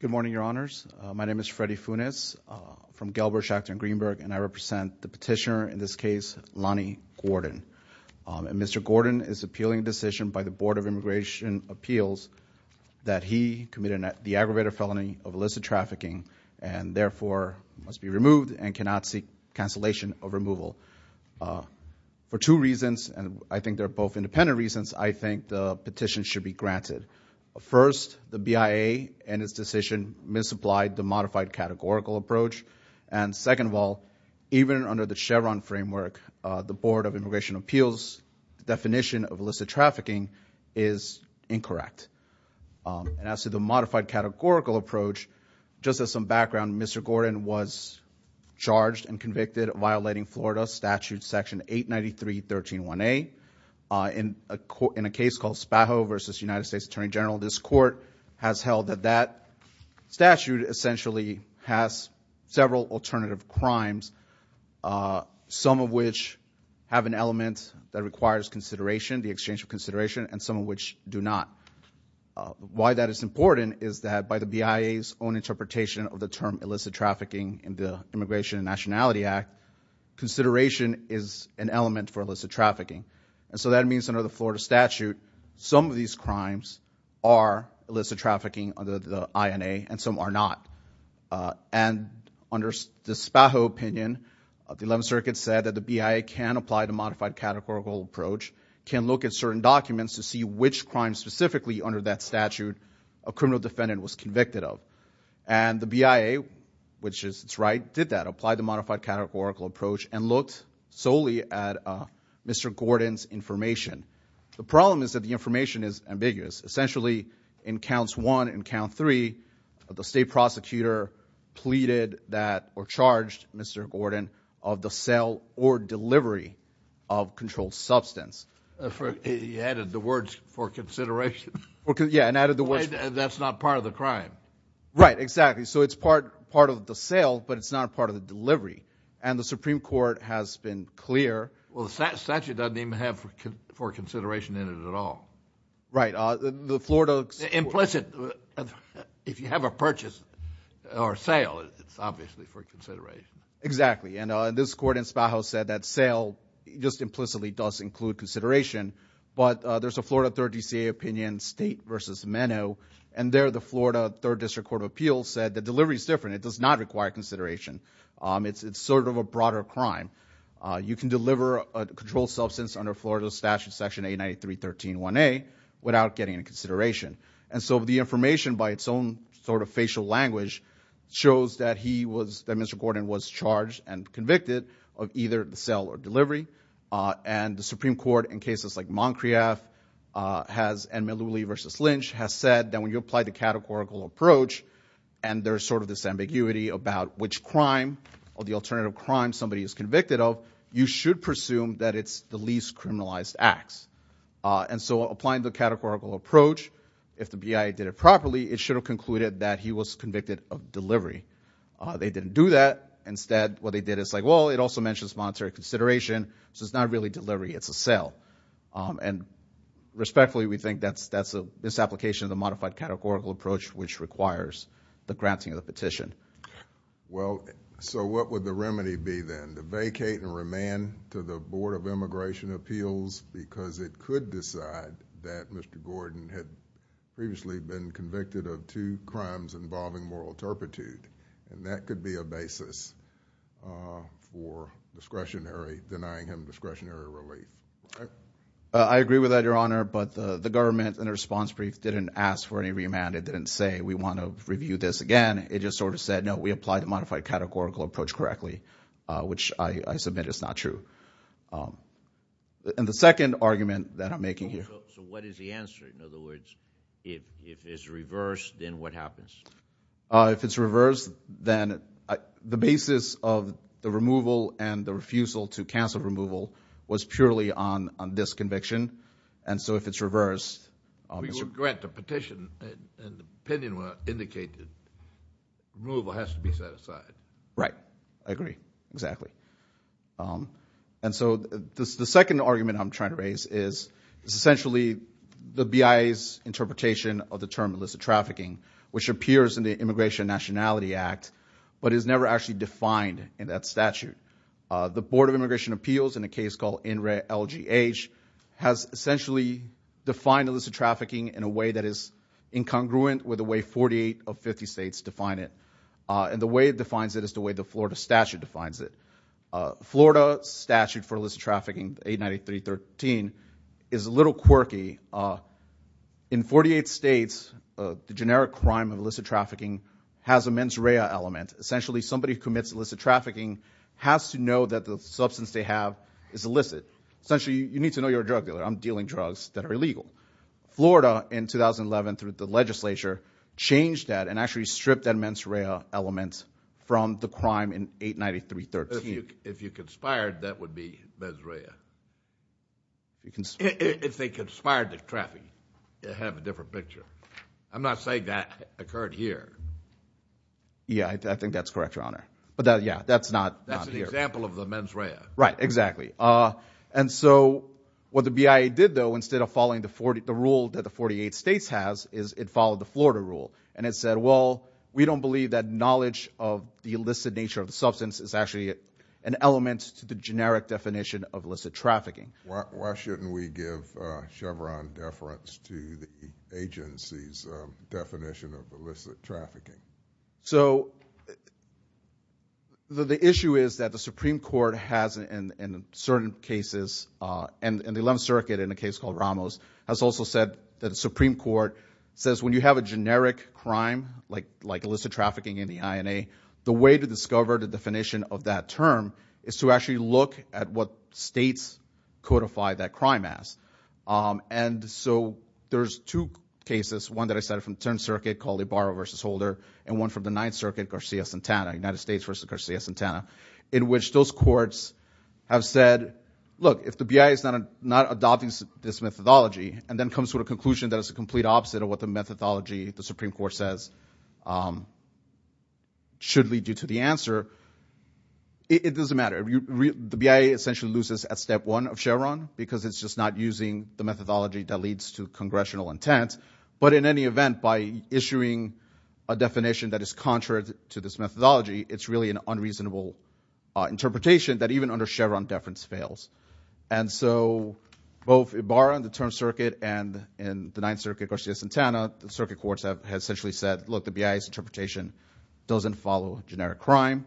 Good morning, Your Honors. My name is Freddy Funes from Gelber, Schachter, and Greenberg, and I represent the petitioner in this case, Lannie Gordon. And Mr. Gordon is appealing a decision by the Board of Immigration Appeals that he committed the aggravated felony of illicit trafficking and therefore must be removed and cannot seek cancellation of removal for two reasons, and I think they're both independent reasons, I think the petition should be granted. First, the BIA and its decision misapplied the modified categorical approach. And second of all, even under the Chevron framework, the Board of Immigration Appeals definition of illicit trafficking is incorrect. And as to the modified categorical approach, just as some background, Mr. Gordon was charged and convicted of violating Florida statute section 893.13.1a in a case called Spaho v. United States Attorney General. This court has held that that statute essentially has several alternative crimes, some of which have an element that requires consideration, the exchange of consideration, and some of which do not. Why that is important is that by the BIA's own interpretation of the term illicit trafficking in the Immigration and Nationality Act, consideration is an element for illicit trafficking. And so that means under the Florida statute, some of these crimes are illicit trafficking under the INA and some are not. And under the Spaho opinion, the 11th Circuit said that the BIA can apply the modified categorical approach, can look at certain documents to see which crimes specifically under that statute a criminal defendant was convicted of. And the BIA, which is right, did that, applied the modified categorical approach and looked solely at Mr. Gordon's information. The problem is that the information is ambiguous. Essentially, in counts 1 and count 3, the state prosecutor pleaded that or charged Mr. Gordon of the sale or delivery of controlled substance. You added the words for consideration. Yeah, and added the words for consideration. That's not part of the crime. Right, exactly. So it's part of the sale, but it's not part of the delivery. And the Supreme Court has been clear. Well, the statute doesn't even have for consideration in it at all. Right. The Florida... If you have a purchase or sale, it's obviously for consideration. Exactly. And this court in Spaho said that sale just implicitly does include consideration, but there's a Florida 3rd DCA opinion, State v. Menno, and there the Florida 3rd District Court of Appeals said the delivery is different. It does not require consideration. It's sort of a broader crime. You can deliver a controlled substance under Florida Statute Section 893.13.1a without getting a consideration. And so the information by its own sort of facial language shows that he was, that Mr. Gordon was charged and convicted of either the sale or delivery. And the Supreme Court in cases like Moncrieff and Meluli v. Lynch has said that when you apply the categorical approach and there's sort of this ambiguity about which crime or the alternative crime somebody is convicted of, you should presume that it's the least time the categorical approach, if the BIA did it properly, it should have concluded that he was convicted of delivery. They didn't do that. Instead, what they did is like, well, it also mentions monetary consideration, so it's not really delivery, it's a sale. And respectfully, we think that's a misapplication of the modified categorical approach, which requires the granting of the petition. Well, so what would the remedy be then? To vacate and remand to the Board of Immigration Appeals because it could decide that Mr. Gordon had previously been convicted of two crimes involving moral turpitude, and that could be a basis for discretionary, denying him discretionary relief, right? I agree with that, Your Honor, but the government in a response brief didn't ask for any remand. It didn't say, we want to review this again. It just sort of said, no, we applied the modified categorical approach correctly, which I submit is not true. And the second argument that I'm making here. So what is the answer? In other words, if it's reversed, then what happens? If it's reversed, then the basis of the removal and the refusal to cancel removal was purely on this conviction, and so if it's reversed, Mr. Gordon indicated removal has to be set aside. Right. I agree. Exactly. And so the second argument I'm trying to raise is, essentially, the BIA's interpretation of the term illicit trafficking, which appears in the Immigration Nationality Act, but is never actually defined in that statute. The Board of Immigration Appeals, in a case called NRELGH, has essentially defined illicit trafficking in a way that the way 48 of 50 states define it, and the way it defines it is the way the Florida statute defines it. Florida statute for illicit trafficking, 893.13, is a little quirky. In 48 states, the generic crime of illicit trafficking has a mens rea element. Essentially, somebody who commits illicit trafficking has to know that the substance they have is illicit. Essentially, you need to know you're a drug dealer. I'm dealing drugs that are illegal. Florida, in 2011, through the legislature, changed that and actually stripped that mens rea element from the crime in 893.13. If you conspired, that would be mens rea. If they conspired to trafficking, you'd have a different picture. I'm not saying that occurred here. Yeah, I think that's correct, Your Honor. But yeah, that's not here. That's an example of the mens rea. Right, exactly. And so what the BIA did, though, instead of following the rule that the 48 states has, is it followed the Florida rule. And it said, well, we don't believe that knowledge of the illicit nature of the substance is actually an element to the generic definition of illicit trafficking. Why shouldn't we give Chevron deference to the agency's definition of illicit trafficking? So the issue is that the Supreme Court has, in certain cases, and the 11th Circuit, in a case called Ramos, has also said that the Supreme Court says when you have a generic crime like illicit trafficking in the INA, the way to discover the definition of that term is to actually look at what states codify that crime as. And so there's two cases, one that I cited from the 10th Circuit called Ibarra v. Holder and one from the 9th Circuit, Garcia-Santana, United States v. Garcia-Santana, in which those courts have said, look, if the BIA is not adopting this methodology and then comes to a conclusion that is the complete opposite of what the methodology the Supreme Court says should lead you to the answer, it doesn't matter. The BIA essentially loses at step one of Chevron because it's just not using the methodology that leads to congressional intent. But in any event, by issuing a definition that is contrary to this methodology, it's really an unreasonable interpretation that even under Chevron deference fails. And so both Ibarra in the 10th Circuit and in the 9th Circuit Garcia-Santana, the circuit courts have essentially said, look, the BIA's interpretation doesn't follow generic crime,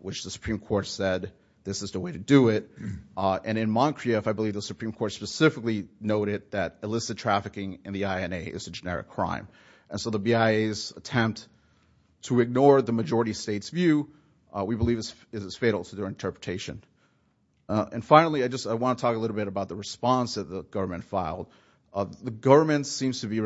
which the Supreme Court said this is the way to do it. And in Moncrieff, I believe the Supreme Court specifically noted that illicit trafficking in the INA is a generic crime. And so the BIA's attempt to ignore the majority state's view, we believe is fatal to their interpretation. And finally, I just want to talk a little bit about the response that the government filed. Spaho v.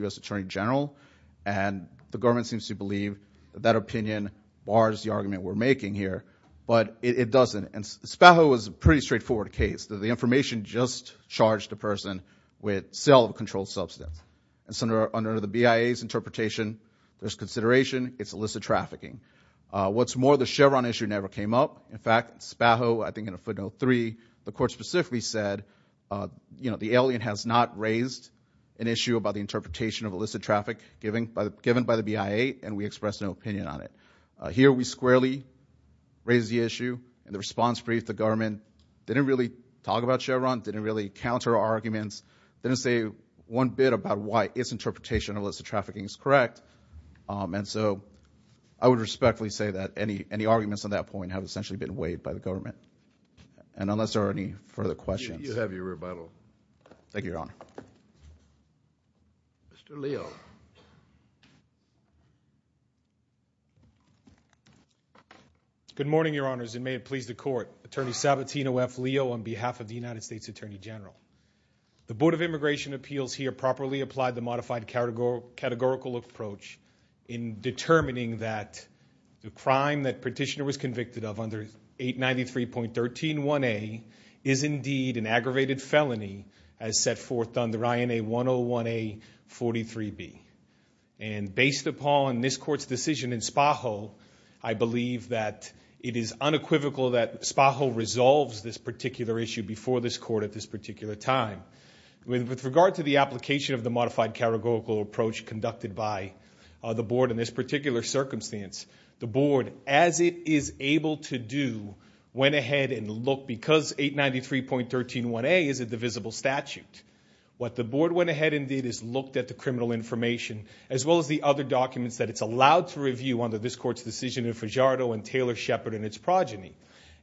U.S. Attorney General, and the government seems to believe that that opinion bars the argument we're making here, but it doesn't. And Spaho was a pretty straightforward case. The information just charged the person with sale of a controlled substance. And so under the BIA's interpretation, there's consideration, it's illicit trafficking. What's more, the Chevron issue never came up. In fact, Spaho, I think in a footnote three, the court specifically said, you know, the interpretation of illicit traffic given by the BIA, and we expressed no opinion on it. Here we squarely raise the issue, and the response brief, the government didn't really talk about Chevron, didn't really counter arguments, didn't say one bit about why its interpretation of illicit trafficking is correct. And so I would respectfully say that any arguments on that point have essentially been weighed by the government. And unless there are any further questions. Thank you, Your Honor. Thank you. Mr. Leo. Good morning, Your Honors, and may it please the court. Attorney Sabatino F. Leo on behalf of the United States Attorney General. The Board of Immigration Appeals here properly applied the modified categorical approach in determining that the crime that Petitioner was convicted of under 893.131A is indeed an aggravated felony as set forth under INA 101A-43B. And based upon this court's decision in Spaho, I believe that it is unequivocal that Spaho resolves this particular issue before this court at this particular time. With regard to the application of the modified categorical approach conducted by the Board in this particular circumstance, the Board, as it is able to do, went ahead and looked because 893.131A is a divisible statute. What the Board went ahead and did is looked at the criminal information as well as the other documents that it's allowed to review under this court's decision in Fajardo and Taylor-Shepard and its progeny.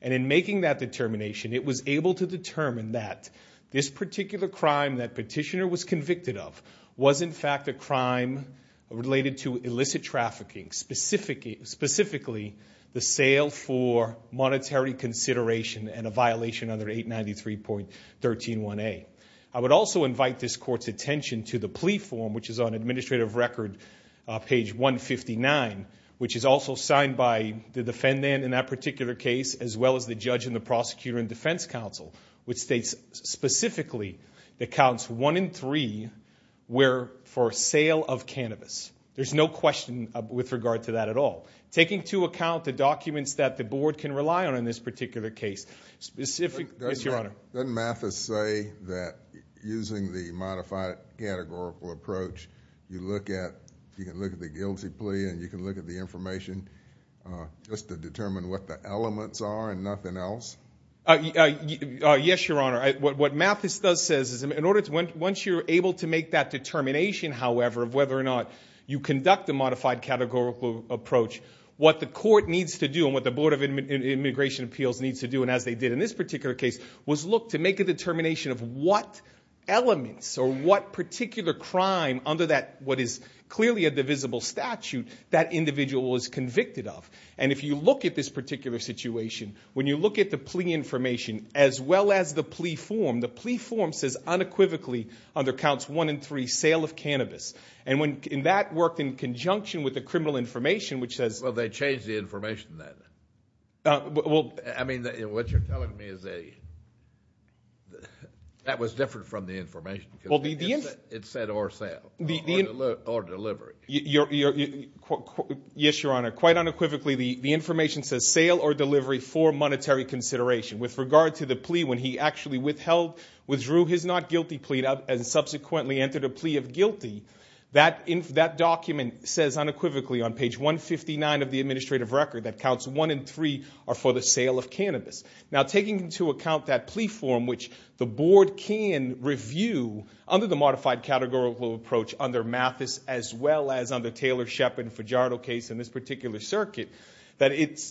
And in making that determination, it was able to determine that this particular crime that Petitioner was convicted of was in fact a crime related to illicit trafficking, specifically the sale for monetary consideration and a violation under 893.131A. I would also invite this court's attention to the plea form, which is on Administrative Record page 159, which is also signed by the defendant in that particular case, as well as the judge and the prosecutor and defense counsel, which states specifically that counts one in three were for sale of cannabis. There's no question with regard to that at all. Taking into account the documents that the Board can rely on in this particular case, specific... Doesn't Mathis say that using the modified categorical approach, you can look at the guilty plea and you can look at the information just to determine what the elements are and nothing else? Yes, Your Honor. What Mathis does say is once you're able to make that determination, however, of whether or not you conduct a modified categorical approach, what the court needs to do and what the Board of Immigration Appeals needs to do, and as they did in this particular case, was look to make a determination of what elements or what particular crime under what is clearly a divisible statute that individual was convicted of. If you look at this particular situation, when you look at the plea information as well as the plea form, the plea form says unequivocally under counts one and three, the sale of cannabis, and that worked in conjunction with the criminal information, which says... Well, they changed the information then. Well... I mean, what you're telling me is that was different from the information. Well, the... It said or sale or delivery. Yes, Your Honor. Quite unequivocally, the information says sale or delivery for monetary consideration. With regard to the plea, when he actually withdrew his not guilty plea and subsequently entered a plea of guilty, that document says unequivocally on page 159 of the administrative record that counts one and three are for the sale of cannabis. Now, taking into account that plea form, which the Board can review under the modified categorical approach under Mathis as well as under Taylor, Shepard, and Fajardo case in this particular circuit, that it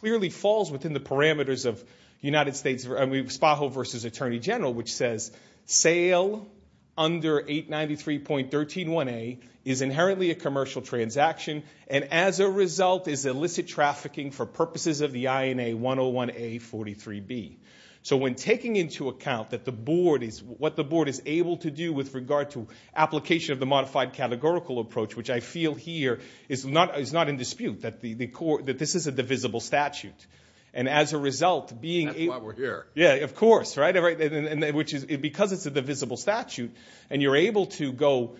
clearly falls within the parameters of 893.131A is inherently a commercial transaction, and as a result is illicit trafficking for purposes of the INA 101A43B. So when taking into account that the Board is... what the Board is able to do with regard to application of the modified categorical approach, which I feel here is not in dispute, that this is a divisible statute. And as a result, being... That's why we're here. Yeah, of course, right? Because it's a divisible statute, and you're able to go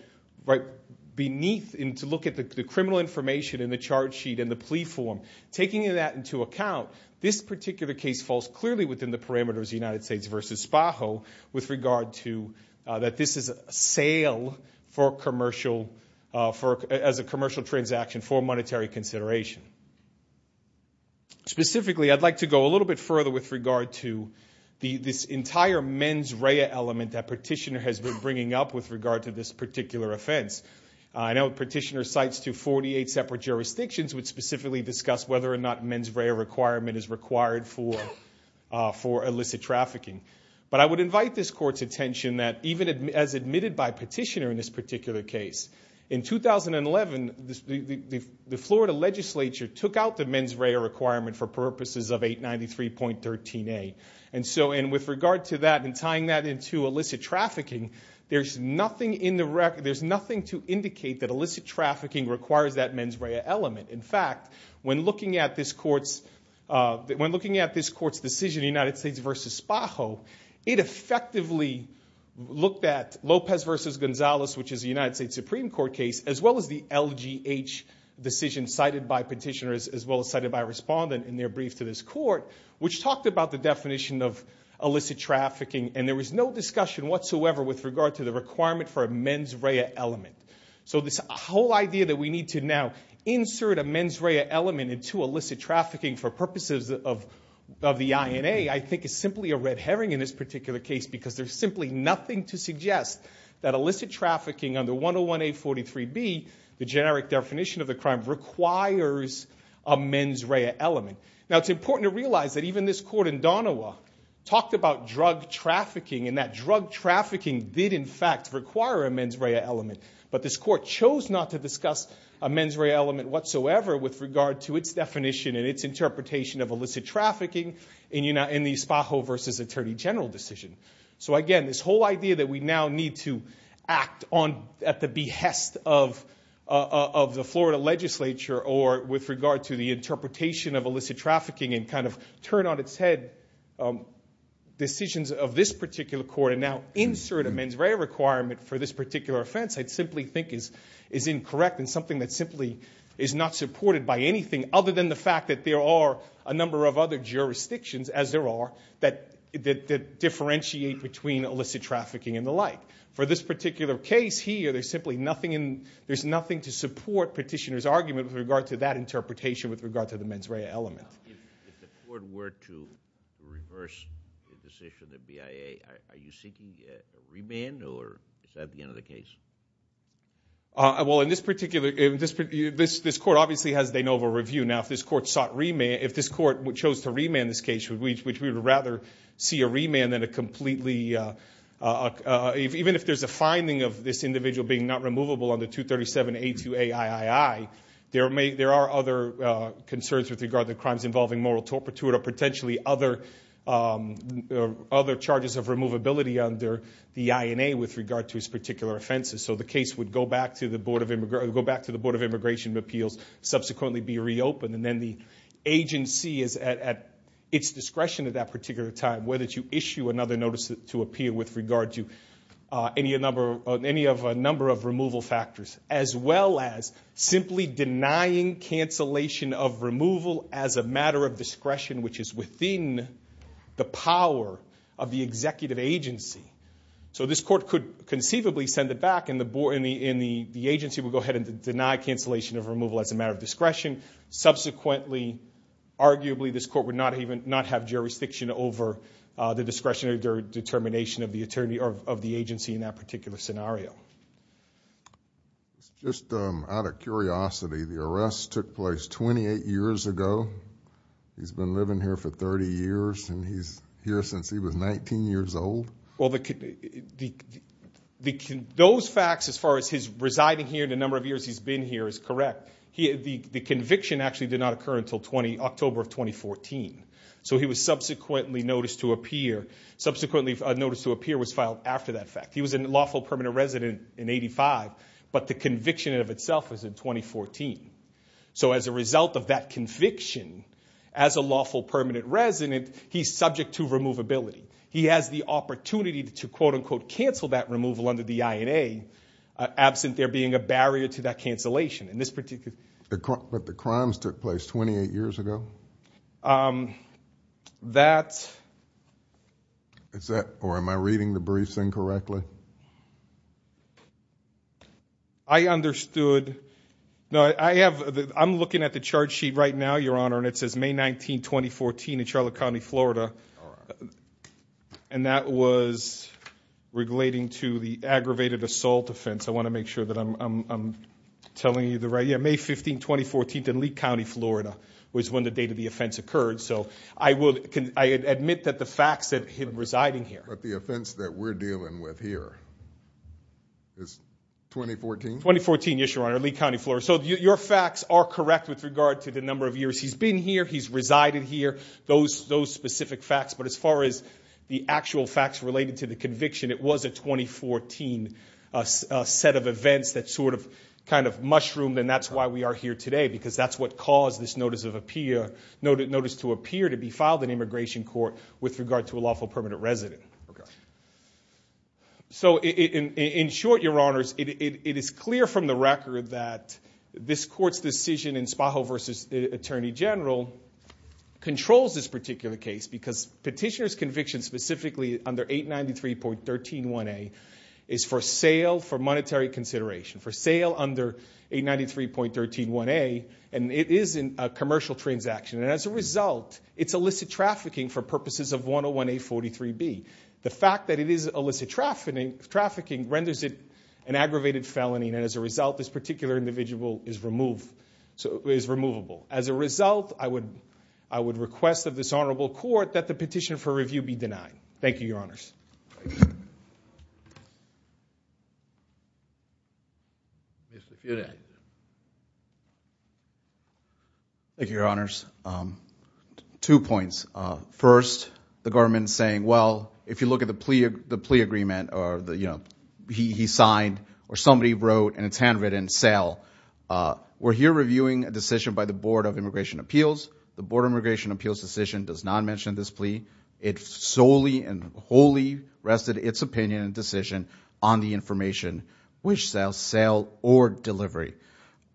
beneath and to look at the criminal information in the charge sheet and the plea form, taking that into account, this particular case falls clearly within the parameters of United States v. Spajo with regard to that this is a sale for commercial... as a commercial transaction for monetary consideration. Specifically, I'd like to go a little bit further with regard to this entire mens rea element that Petitioner has been bringing up with regard to this particular offense. I know Petitioner cites to 48 separate jurisdictions, which specifically discuss whether or not mens rea requirement is required for illicit trafficking. But I would invite this Court's attention that even as admitted by Petitioner in this particular case, in 2011, the Florida Legislature, took out the mens rea requirement for purposes of 893.13a. And with regard to that and tying that into illicit trafficking, there's nothing to indicate that illicit trafficking requires that mens rea element. In fact, when looking at this Court's decision, United States v. Spajo, it effectively looked at Lopez v. Gonzalez, which is a United States Supreme Court case, as well as the Petitioner's, as well as cited by a respondent in their brief to this Court, which talked about the definition of illicit trafficking. And there was no discussion whatsoever with regard to the requirement for a mens rea element. So this whole idea that we need to now insert a mens rea element into illicit trafficking for purposes of the INA, I think is simply a red herring in this particular case because there's simply nothing to suggest that illicit trafficking under 101.843b, the generic definition of the crime, requires a mens rea element. Now, it's important to realize that even this Court in Donoha talked about drug trafficking, and that drug trafficking did in fact require a mens rea element. But this Court chose not to discuss a mens rea element whatsoever with regard to its definition and its interpretation of illicit trafficking in the Spajo v. Attorney General decision. So again, this whole idea that we now need to act at the behest of the Florida legislature or with regard to the interpretation of illicit trafficking and kind of turn on its head decisions of this particular Court and now insert a mens rea requirement for this particular offense, I simply think is incorrect and something that simply is not supported by anything other than the fact that there are a number of other jurisdictions, as there are, that differentiate between illicit trafficking and the like. For this particular case here, there's simply nothing to support Petitioner's argument with regard to that interpretation with regard to the mens rea element. If the Court were to reverse the decision of the BIA, are you seeking a remand or is that the end of the case? Well, in this particular – this Court obviously has de novo review. Now, if this Court sought remand – if this Court chose to remand this case, we would rather see a remand than a completely – even if there's a BIA, there are other concerns with regard to crimes involving moral torpitude or potentially other charges of removability under the INA with regard to its particular offenses. So the case would go back to the Board of Immigration Appeals, subsequently be reopened, and then the agency is at its discretion at that particular time whether to issue another notice to appeal with regard to any of a number of removal factors as well as simply denying cancellation of removal as a matter of discretion which is within the power of the executive agency. So this Court could conceivably send it back and the agency would go ahead and deny cancellation of removal as a matter of discretion. Subsequently, arguably, this Court would not have jurisdiction over the determination of the agency in that particular scenario. Just out of curiosity, the arrest took place 28 years ago. He's been living here for 30 years and he's here since he was 19 years old? Well, those facts as far as his residing here and the number of years he's been here is correct. The conviction actually did not occur until October of 2014. So he was subsequently noticed to appear. Subsequently, a notice to appear was filed after that fact. He was a lawful permanent resident in 1985, but the conviction of itself was in 2014. So as a result of that conviction, as a lawful permanent resident, he's subject to removability. He has the opportunity to, quote, unquote, cancel that removal under the INA absent there being a barrier to that cancellation. But the crimes took place 28 years ago? That's... Or am I reading the briefs incorrectly? I understood. No, I'm looking at the charge sheet right now, Your Honor, and it says May 19, 2014 in Charlotte County, Florida, and that was relating to the aggravated assault offense. I want to make sure that I'm telling you the right... Yeah, May 15, 2014 in Lee County, Florida, was when the date of the offense occurred. So I admit that the facts that him residing here... But the offense that we're dealing with here is 2014? 2014, yes, Your Honor, Lee County, Florida. So your facts are correct with regard to the number of years he's been here, he's resided here, those specific facts. But as far as the actual facts related to the conviction, it was a 2014 set of events that sort of kind of mushroomed, and that's why we are here today, because that's what caused this notice to appear to be filed in immigration court with regard to a lawful permanent resident. So in short, Your Honors, it is clear from the record that this court's decision in Spajo v. Attorney General controls this particular case because petitioner's conviction specifically under 893.131A is for sale for monetary consideration, for sale under 893.131A, and it is a commercial transaction. And as a result, it's illicit trafficking for purposes of 101A.43B. The fact that it is illicit trafficking renders it an aggravated felony, and as a result, this particular individual is removable. As a result, I would request of this honorable court that the petition for review be denied. Thank you, Your Honors. Thank you, Your Honors. Two points. First, the government saying, well, if you look at the plea agreement or, you know, he signed or somebody wrote and it's handwritten, sell. We're here reviewing a decision by the Board of Immigration Appeals. The Board of Immigration Appeals decision does not mention this plea. It solely and wholly rested its opinion and decision on the information, which sells, sale, or delivery.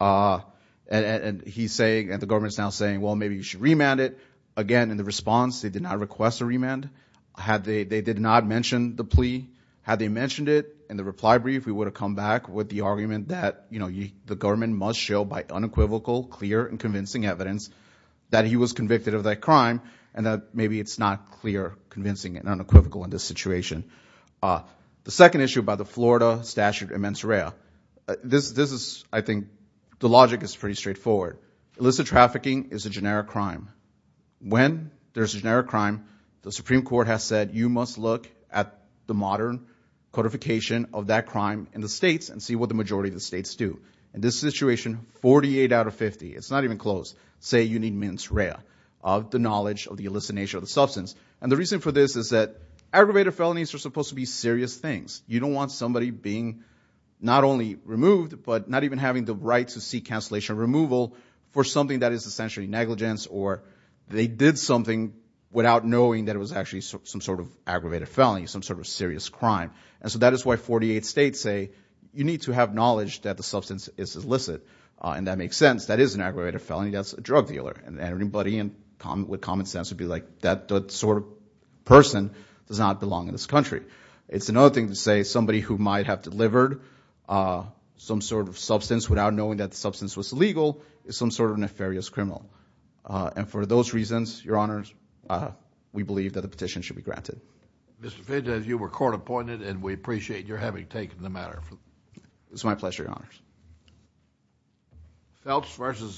And he's saying, and the government's now saying, well, maybe you should remand it. Again, in the response, they did not request a remand. They did not mention the plea. Had they mentioned it in the reply brief, we would have come back with the argument that, you know, the government must show by unequivocal, clear, and convincing evidence that he was convicted of that crime and that maybe it's not clear, convincing, and unequivocal in this situation. The second issue by the Florida statute and mens rea. This is, I think, the logic is pretty straightforward. Illicit trafficking is a generic crime. When there's a generic crime, the Supreme Court has said you must look at the modern codification of that crime in the states and see what the majority of the states do. In this situation, 48 out of 50. It's not even close. Say you need mens rea of the knowledge of the elicitation of the substance. And the reason for this is that aggravated felonies are supposed to be serious things. You don't want somebody being not only removed, but not even having the right to seek cancellation removal for something that is essentially negligence or they did something without knowing that it was actually some sort of aggravated felony, some sort of serious crime. And so that is why 48 states say you need to have knowledge that the substance is illicit. And that makes sense. That is an aggravated felony. That's a drug dealer. And everybody with common sense would be like that sort of person does not belong in this country. It's another thing to say somebody who might have delivered some sort of substance without knowing that the substance was illegal is some sort of nefarious criminal. And for those reasons, Your Honors, we believe that the petition should be granted. Mr. Finta, you were court appointed and we appreciate your having taken the matter. It's my pleasure, Your Honors.